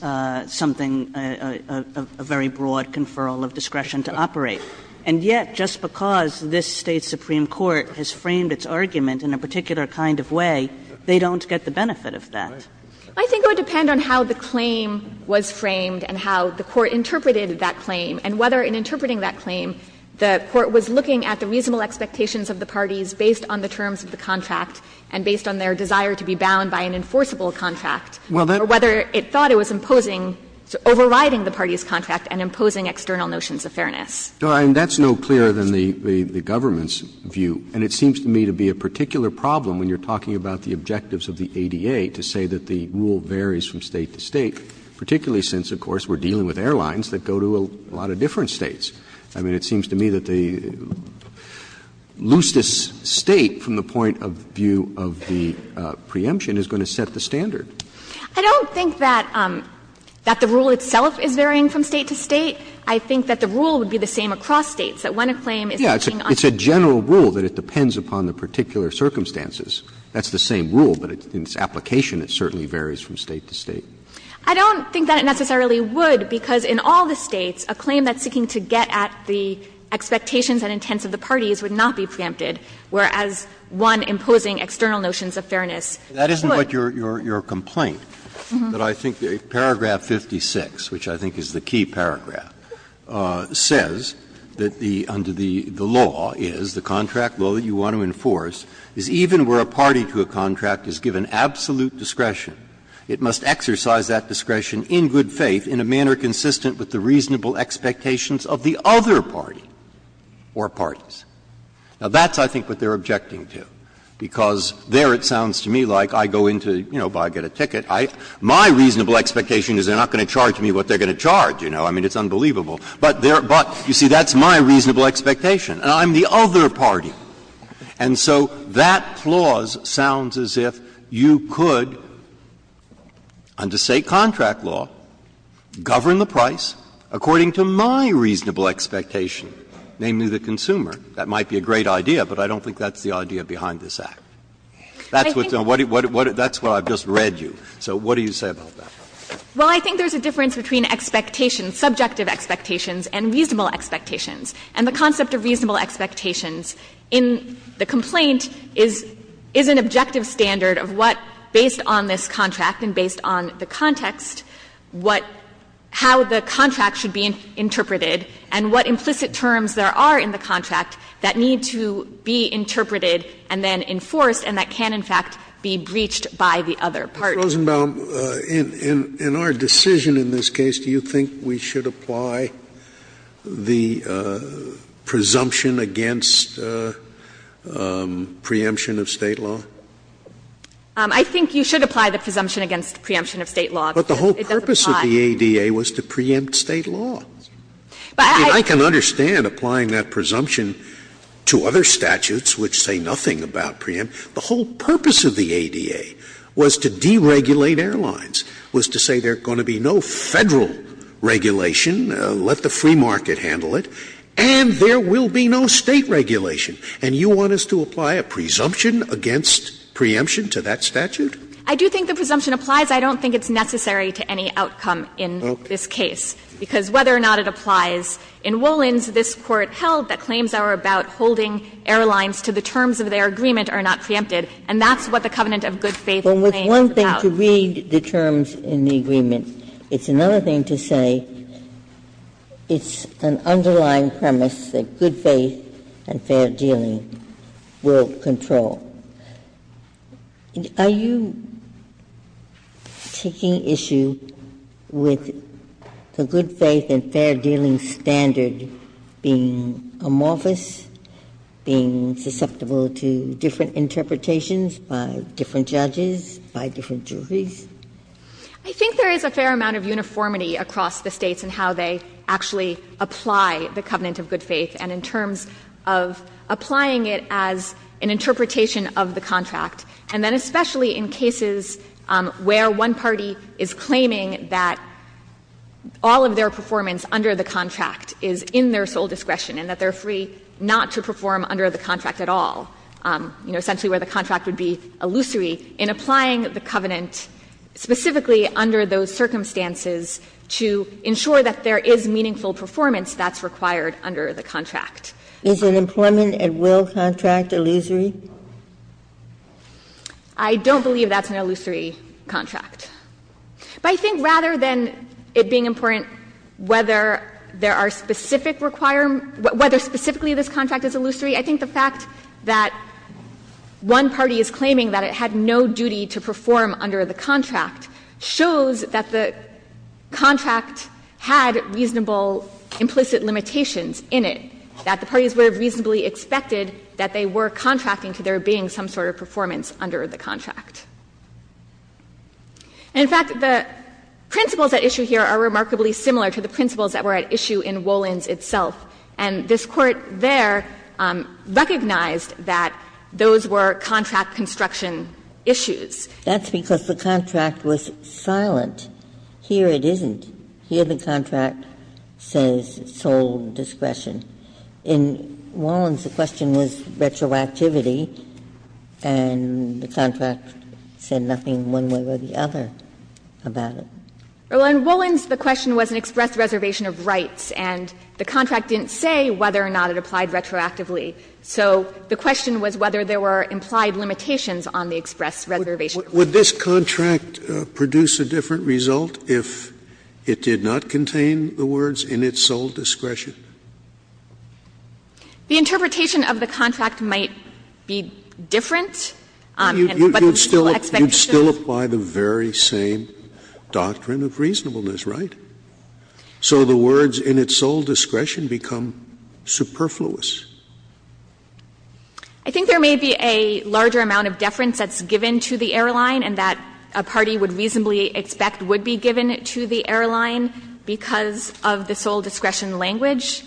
something, a very broad conferral of discretion to operate. And yet, just because this State's Supreme Court has framed its argument in a particular kind of way, they don't get the benefit of that. I think it would depend on how the claim was framed and how the Court interpreted that claim and whether in interpreting that claim the Court was looking at the reasonable expectations of the parties based on the terms of the contract and based on their desire to be bound by an enforceable contract, or whether it thought it was imposing or overriding the parties' contract and imposing external notions of fairness. And that's no clearer than the government's view, and it seems to me to be a particular problem when you're talking about the objectives of the ADA to say that the rule varies from State to State, particularly since, of course, we're dealing with airlines that go to a lot of different States. I mean, it seems to me that the loosest State from the point of view of the preemption is going to set the standard. I don't think that the rule itself is varying from State to State. I think that the rule would be the same across States, that when a claim is seeking on the ground. It's a general rule that it depends upon the particular circumstances. That's the same rule, but in its application it certainly varies from State to State. I don't think that it necessarily would, because in all the States, a claim that's met at the expectations and intents of the parties would not be preempted, whereas one imposing external notions of fairness could. Breyer. That isn't what your complaint, but I think paragraph 56, which I think is the key paragraph, says that the under the law is, the contract law that you want to enforce is even where a party to a contract is given absolute discretion, it must exercise that discretion in good faith in a manner consistent with the reasonable expectations of the other party or parties. Now, that's, I think, what they're objecting to, because there it sounds to me like I go into, you know, buy, get a ticket. My reasonable expectation is they're not going to charge me what they're going to charge, you know. I mean, it's unbelievable. But there you see that's my reasonable expectation, and I'm the other party. And so that clause sounds as if you could, under State contract law, govern the price according to my reasonable expectation, namely the consumer. That might be a great idea, but I don't think that's the idea behind this Act. That's what I've just read you. So what do you say about that? Well, I think there's a difference between expectations, subjective expectations and reasonable expectations. And the concept of reasonable expectations in the complaint is an objective standard of what, based on this contract and based on the context, what, how the contract should be interpreted and what implicit terms there are in the contract that need to be interpreted and then enforced, and that can, in fact, be breached by the other party. Scalia, in our decision in this case, do you think we should apply the presumption against preemption of State law? I think you should apply the presumption against the preemption of State law. But the whole purpose of the ADA was to preempt State law. But I can understand applying that presumption to other statutes which say nothing about preemption. The whole purpose of the ADA was to deregulate airlines, was to say there's going to be no Federal regulation, let the free market handle it, and there will be no State regulation. And you want us to apply a presumption against preemption to that statute? I do think the presumption applies. I don't think it's necessary to any outcome in this case, because whether or not it applies in Wollin's, this Court held that claims that are about holding airlines to the terms of their agreement are not preempted, and that's what the Covenant of Good Faith claims about. Ginsburg. But with one thing to read the terms in the agreement, it's another thing to say it's an underlying premise that good faith and fair dealing will control. Are you taking issue with the good faith and fair dealing standard being amorphous, being susceptible to different interpretations by different judges, by different juries? I think there is a fair amount of uniformity across the States in how they actually apply the Covenant of Good Faith, and in terms of applying it as an interpretation of the contract, and then especially in cases where one party is claiming that all of their performance under the contract is in their sole discretion and that they're free not to perform under the contract at all, you know, essentially where the contract would be illusory, in applying the covenant specifically under those circumstances to ensure that there is meaningful performance that's required under the contract. Is an employment at will contract illusory? I don't believe that's an illusory contract. But I think rather than it being important whether there are specific requirements or whether specifically this contract is illusory, I think the fact that one party is claiming that it had no duty to perform under the contract shows that the contract had reasonable implicit limitations in it, that the parties would have reasonably expected that they were contracting to there being some sort of performance under the contract. And, in fact, the principles at issue here are remarkably similar to the principles that were at issue in Wollins itself. And this Court there recognized that those were contract construction issues. Ginsburg-Miller That's because the contract was silent. Here it isn't. Here the contract says sole discretion. In Wollins, the question was retroactivity, and the contract said nothing one way or the other about it. Sherryl In Wollins, the question was an express reservation of rights, and the contract didn't say whether or not it applied retroactively. So the question was whether there were implied limitations on the express reservation of rights. Scalia Would this contract produce a different result if it did not contain the words in its sole discretion? Sherryl The interpretation of the contract might be different, but the expectation of the contract would be different. Scalia You would still apply the very same doctrine of reasonableness, right? So the words in its sole discretion become superfluous. Sherryl I think there may be a larger amount of deference that's given to the airline and that a party would reasonably expect would be given to the airline because of the sole discretion language.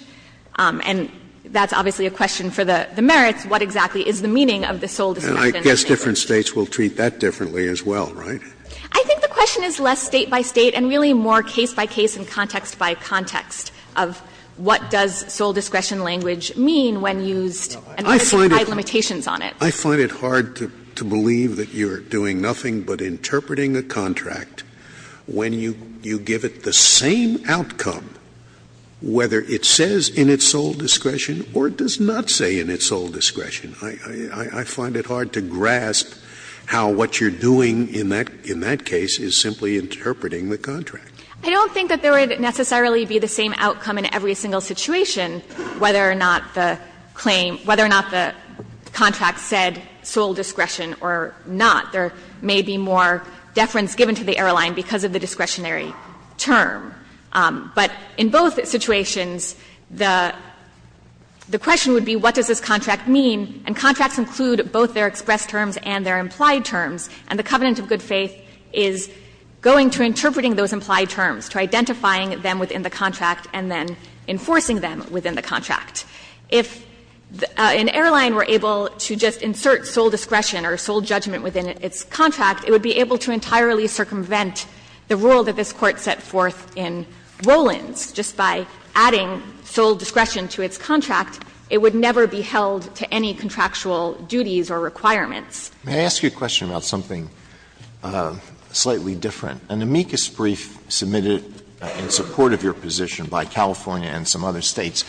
And that's obviously a question for the merits. What exactly is the meaning of the sole discretion? Scalia And I guess different States will treat that differently as well, right? Sherryl I think the question is less State by State and really more case by case and context by context of what does sole discretion language mean when used and what are the implied limitations on it. Scalia I find it hard to believe that you're doing nothing but interpreting a contract when you give it the same outcome, whether it says in its sole discretion or it does not say in its sole discretion. I find it hard to grasp how what you're doing in that case is simply interpreting the contract. Sherryl I don't think that there would necessarily be the same outcome in every single situation whether or not the claim – whether or not the contract said sole discretion or not. There may be more deference given to the airline because of the discretionary term. But in both situations, the question would be what does this contract mean, and contracts include both their expressed terms and their implied terms, and the covenant of good faith is going to interpreting those implied terms, to identifying them within the contract and then enforcing them within the contract. If an airline were able to just insert sole discretion or sole judgment within its contract, it would be able to entirely circumvent the rule that this Court set forth in Roland's. Just by adding sole discretion to its contract, it would never be held to any contractual duties or requirements. Alito May I ask you a question about something slightly different? An amicus brief submitted in support of your position by California and some other States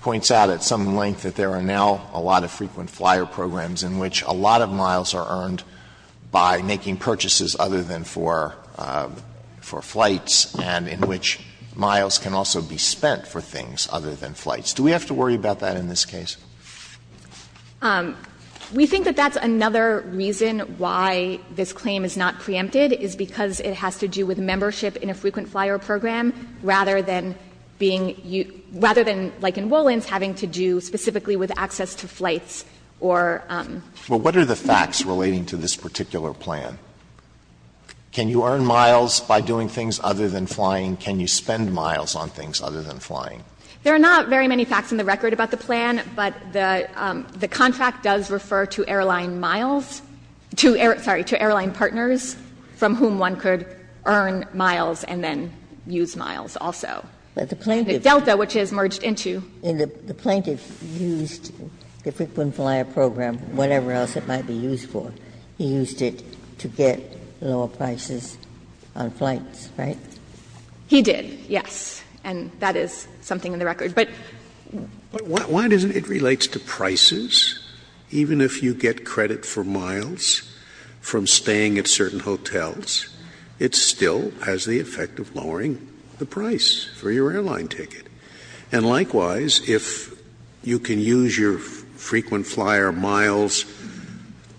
points out at some length that there are now a lot of frequent flyer programs in which a lot of miles are earned by making purchases other than for – for flights, and in which miles can also be spent for things other than flights. Do we have to worry about that in this case? We think that that's another reason why this claim is not preempted, is because it has to do with membership in a frequent flyer program rather than being – rather than, like in Wollin's, having to do specifically with access to flights or – Alito Well, what are the facts relating to this particular plan? Can you earn miles by doing things other than flying? Can you spend miles on things other than flying? There are not very many facts in the record about the plan, but the contract does refer to airline miles – sorry, to airline partners from whom one could earn miles and then use miles also. But the plaintiff – The Delta, which is merged into – The plaintiff used the frequent flyer program, whatever else it might be used for. He used it to get lower prices on flights, right? He did, yes. And that is something in the record. But – But why doesn't it – it relates to prices. Even if you get credit for miles from staying at certain hotels, it still has the price for your airline ticket. And likewise, if you can use your frequent flyer miles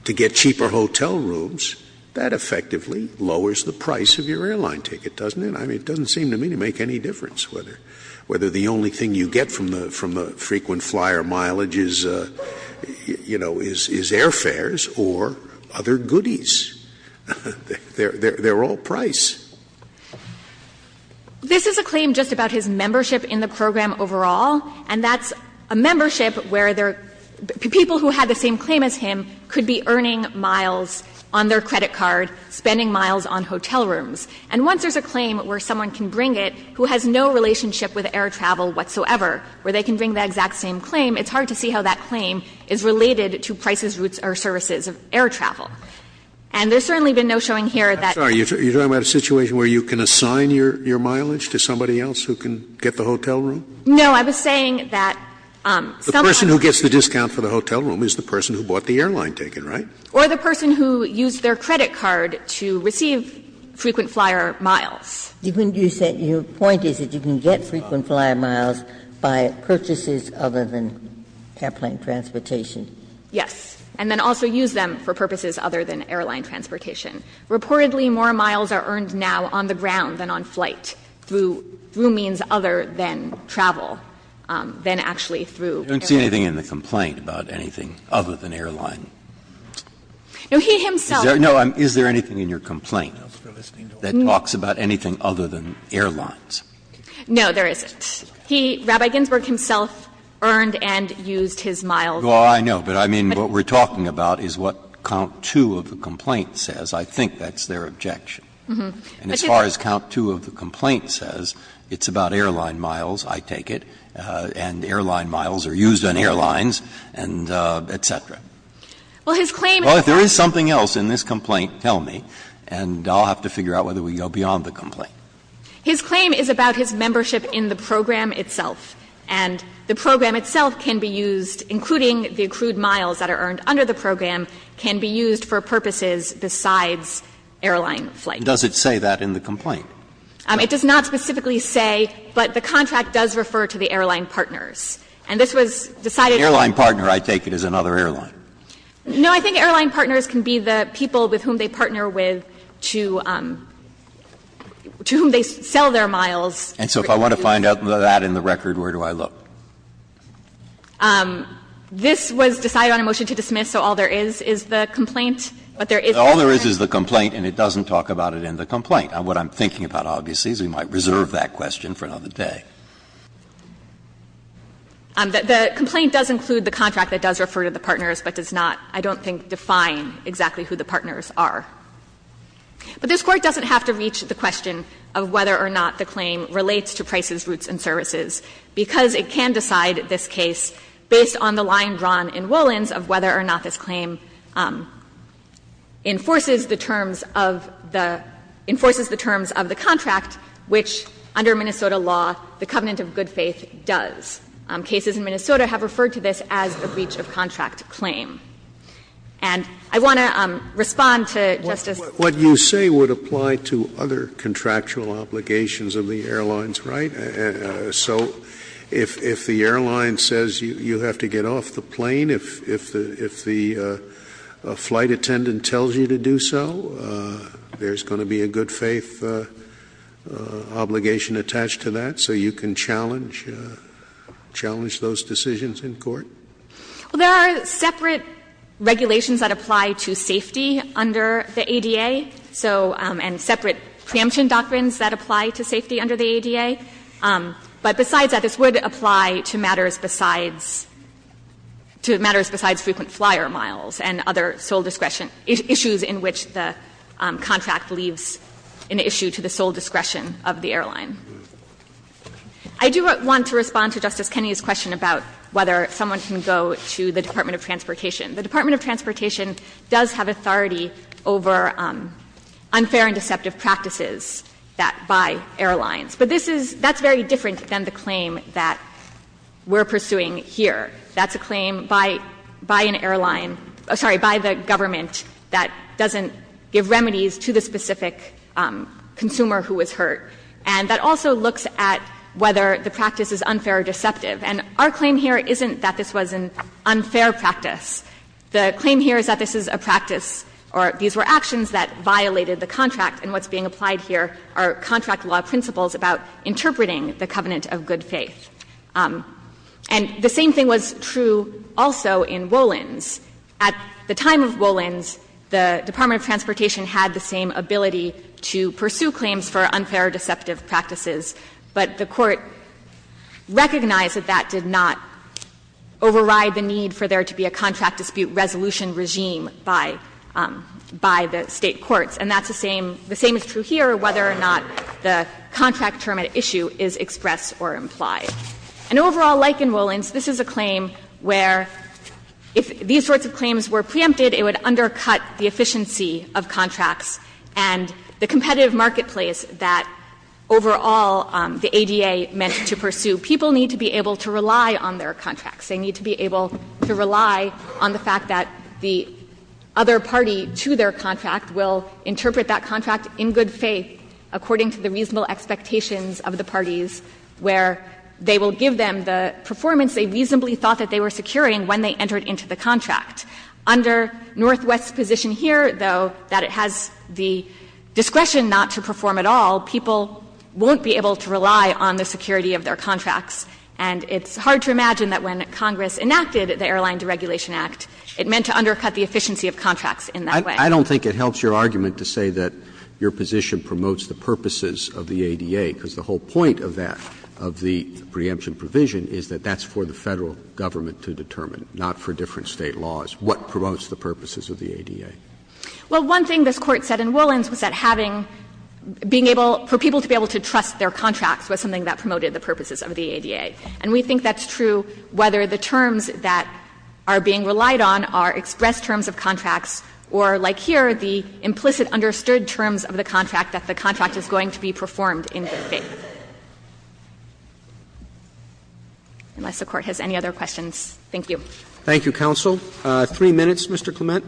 to get cheaper hotel rooms, that effectively lowers the price of your airline ticket, doesn't it? I mean, it doesn't seem to me to make any difference whether the only thing you get from the frequent flyer mileage is, you know, is airfares or other goodies. They're all price. This is a claim just about his membership in the program overall, and that's a membership where there – people who had the same claim as him could be earning miles on their credit card, spending miles on hotel rooms. And once there's a claim where someone can bring it who has no relationship with air travel whatsoever, where they can bring the exact same claim, it's hard to see how that claim is related to prices, routes, or services of air travel. And there's certainly been no showing here that the person who gets the discount for the hotel room is the person who bought the airline ticket, right? Or the person who used their credit card to receive frequent flyer miles. You said your point is that you can get frequent flyer miles by purchases other than airplane transportation. Yes. And then also use them for purposes other than airline transportation. Reportedly, more miles are earned now on the ground than on flight through means other than travel, than actually through airplane. You don't see anything in the complaint about anything other than airline. No, he himself. Is there anything in your complaint that talks about anything other than airlines? No, there isn't. He, Rabbi Ginsburg himself, earned and used his miles. Well, I know, but I mean, what we're talking about is what count 2 of the complaint says. I think that's their objection. And as far as count 2 of the complaint says, it's about airline miles, I take it, and airline miles are used on airlines, and et cetera. Well, his claim is. Well, if there is something else in this complaint, tell me, and I'll have to figure out whether we go beyond the complaint. His claim is about his membership in the program itself. And the program itself can be used, including the accrued miles that are earned under the program, can be used for purposes besides airline flight. Does it say that in the complaint? It does not specifically say, but the contract does refer to the airline partners. And this was decided. Airline partner, I take it, is another airline. No, I think airline partners can be the people with whom they partner with to whom they sell their miles. And so if I want to find out that in the record, where do I look? This was decided on a motion to dismiss, so all there is is the complaint. But there is the contract. All there is is the complaint, and it doesn't talk about it in the complaint. What I'm thinking about, obviously, is we might reserve that question for another day. The complaint does include the contract that does refer to the partners, but does not, I don't think, define exactly who the partners are. But this Court doesn't have to reach the question of whether or not the claim relates to prices, routes, and services, because it can decide this case based on the line drawn in Woollins of whether or not this claim enforces the terms of the contract, which under Minnesota law, the covenant of good faith does. Cases in Minnesota have referred to this as a breach of contract claim. And I want to respond to Justice Scalia's question. Scalia, what you say would apply to other contractual obligations of the airlines, right? So if the airline says you have to get off the plane, if the flight attendant tells you to do so, there's going to be a good faith obligation attached to that, so you can challenge those decisions in court? There are separate regulations that apply to safety under the ADA, so and separate preemption doctrines that apply to safety under the ADA. But besides that, this would apply to matters besides frequent flyer miles and other sole discretion issues in which the contract leaves an issue to the sole discretion of the airline. I do want to respond to Justice Kennedy's question about whether someone can go to the Department of Transportation. The Department of Transportation does have authority over unfair and deceptive practices by airlines. But this is — that's very different than the claim that we're pursuing here. That's a claim by an airline — sorry, by the government that doesn't give remedies to the specific consumer who was hurt. And that also looks at whether the practice is unfair or deceptive. And our claim here isn't that this was an unfair practice. The claim here is that this is a practice or these were actions that violated the contract, and what's being applied here are contract law principles about interpreting the covenant of good faith. And the same thing was true also in Wolins. At the time of Wolins, the Department of Transportation had the same ability to pursue claims for unfair or deceptive practices, but the Court recognized that that did not override the need for there to be a contract dispute resolution regime by — by the State courts. And that's the same — the same is true here, whether or not the contract term at issue is expressed or implied. And overall, like in Wolins, this is a claim where if these sorts of claims were preempted, it would undercut the efficiency of contracts. And the competitive marketplace that overall the ADA meant to pursue, people need to be able to rely on their contracts. They need to be able to rely on the fact that the other party to their contract will interpret that contract in good faith according to the reasonable expectations of the parties, where they will give them the performance they reasonably thought that they were securing when they entered into the contract. Under Northwest's position here, though, that it has the discretion not to perform at all, people won't be able to rely on the security of their contracts. And it's hard to imagine that when Congress enacted the Airline Deregulation Act, it meant to undercut the efficiency of contracts in that way. Roberts. Roberts. I don't think it helps your argument to say that your position promotes the purposes of the ADA, because the whole point of that, of the preemption provision, is that that's for the Federal government to determine, not for different State laws. What promotes the purposes of the ADA? Well, one thing this Court said in Woollens was that having, being able, for people to be able to trust their contracts was something that promoted the purposes of the ADA. And we think that's true whether the terms that are being relied on are expressed terms of contracts or, like here, the implicit understood terms of the contract that the contract is going to be performed in good faith. Unless the Court has any other questions. Thank you. Roberts. Thank you, counsel. Three minutes, Mr. Clement. Clement.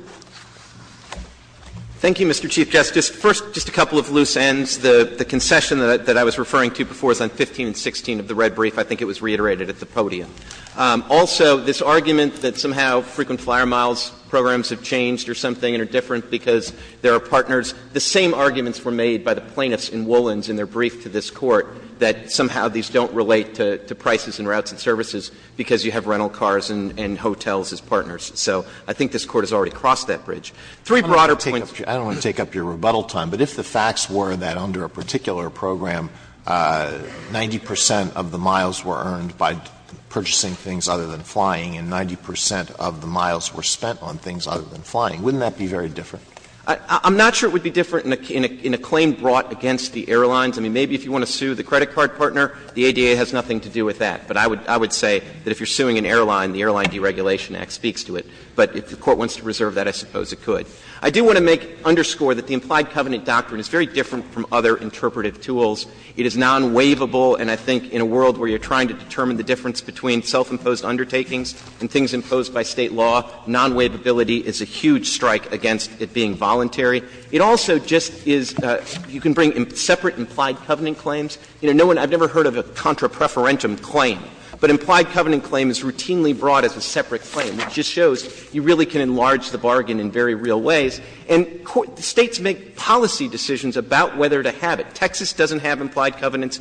Thank you, Mr. Chief Justice. First, just a couple of loose ends. The concession that I was referring to before is on 15 and 16 of the red brief. I think it was reiterated at the podium. Also, this argument that somehow frequent flyer miles programs have changed or something and are different because there are partners, the same arguments were made by the plaintiffs in Woollens in their brief to this Court that somehow these don't relate to prices and routes and services because you have rental cars and hotels as partners. So I think this Court has already crossed that bridge. Three broader points. I don't want to take up your rebuttal time, but if the facts were that under a particular program, 90 percent of the miles were earned by purchasing things other than flying and 90 percent of the miles were spent on things other than flying, wouldn't that be very different? I'm not sure it would be different in a claim brought against the airlines. I mean, maybe if you want to sue the credit card partner, the ADA has nothing to do with that. But I would say that if you're suing an airline, the Airline Deregulation Act speaks to it. But if the Court wants to reserve that, I suppose it could. I do want to underscore that the implied covenant doctrine is very different from other interpretive tools. It is non-waivable, and I think in a world where you're trying to determine the difference between self-imposed undertakings and things imposed by State law, non-waivability is a huge strike against it being voluntary. It also just is you can bring separate implied covenant claims. You know, no one — I've never heard of a contra preferentum claim, but implied covenant claim is routinely brought as a separate claim. It just shows you really can enlarge the bargain in very real ways. And States make policy decisions about whether to have it. Texas doesn't have implied covenants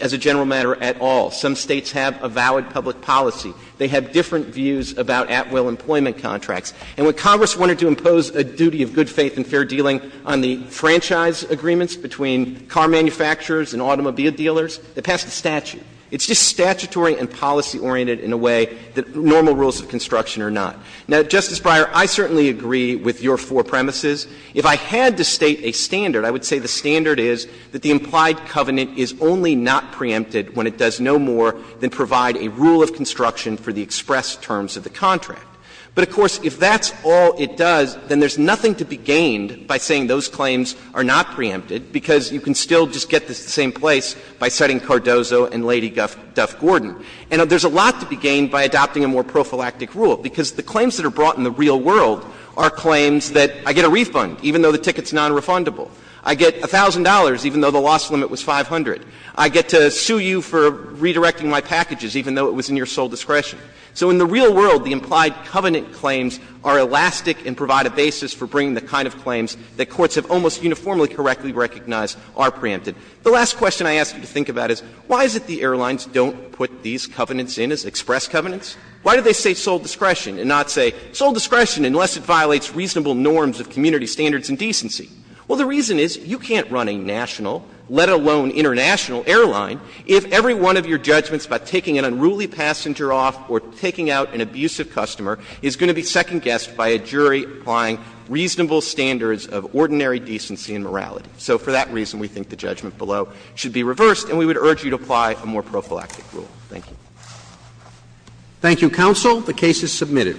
as a general matter at all. Some States have a valid public policy. They have different views about at-will employment contracts. And when Congress wanted to impose a duty of good faith and fair dealing on the franchise agreements between car manufacturers and automobile dealers, they passed a statute. It's just statutory and policy-oriented in a way that normal rules of construction are not. Now, Justice Breyer, I certainly agree with your four premises. If I had to state a standard, I would say the standard is that the implied covenant is only not preempted when it does no more than provide a rule of construction for the express terms of the contract. But, of course, if that's all it does, then there's nothing to be gained by saying those claims are not preempted, because you can still just get this to the same place by citing Cardozo and Lady Duff-Gordon. And there's a lot to be gained by adopting a more prophylactic rule, because the claims that are brought in the real world are claims that I get a refund, even though the ticket's nonrefundable. I get $1,000, even though the loss limit was 500. I get to sue you for redirecting my packages, even though it was in your sole discretion. So in the real world, the implied covenant claims are elastic and provide a basis for bringing the kind of claims that courts have almost uniformly correctly recognized are preempted. The last question I ask you to think about is, why is it the airlines don't put these covenants in as express covenants? Why do they say sole discretion and not say sole discretion unless it violates reasonable norms of community standards and decency? Well, the reason is, you can't run a national, let alone international, airline if every one of your judgments about taking an unruly passenger off or taking out an abusive customer is going to be second-guessed by a jury applying reasonable standards of ordinary decency and morality. So for that reason, we think the judgment below should be reversed, and we would urge you to apply a more prophylactic rule. Thank you. Roberts. Thank you, counsel. The case is submitted.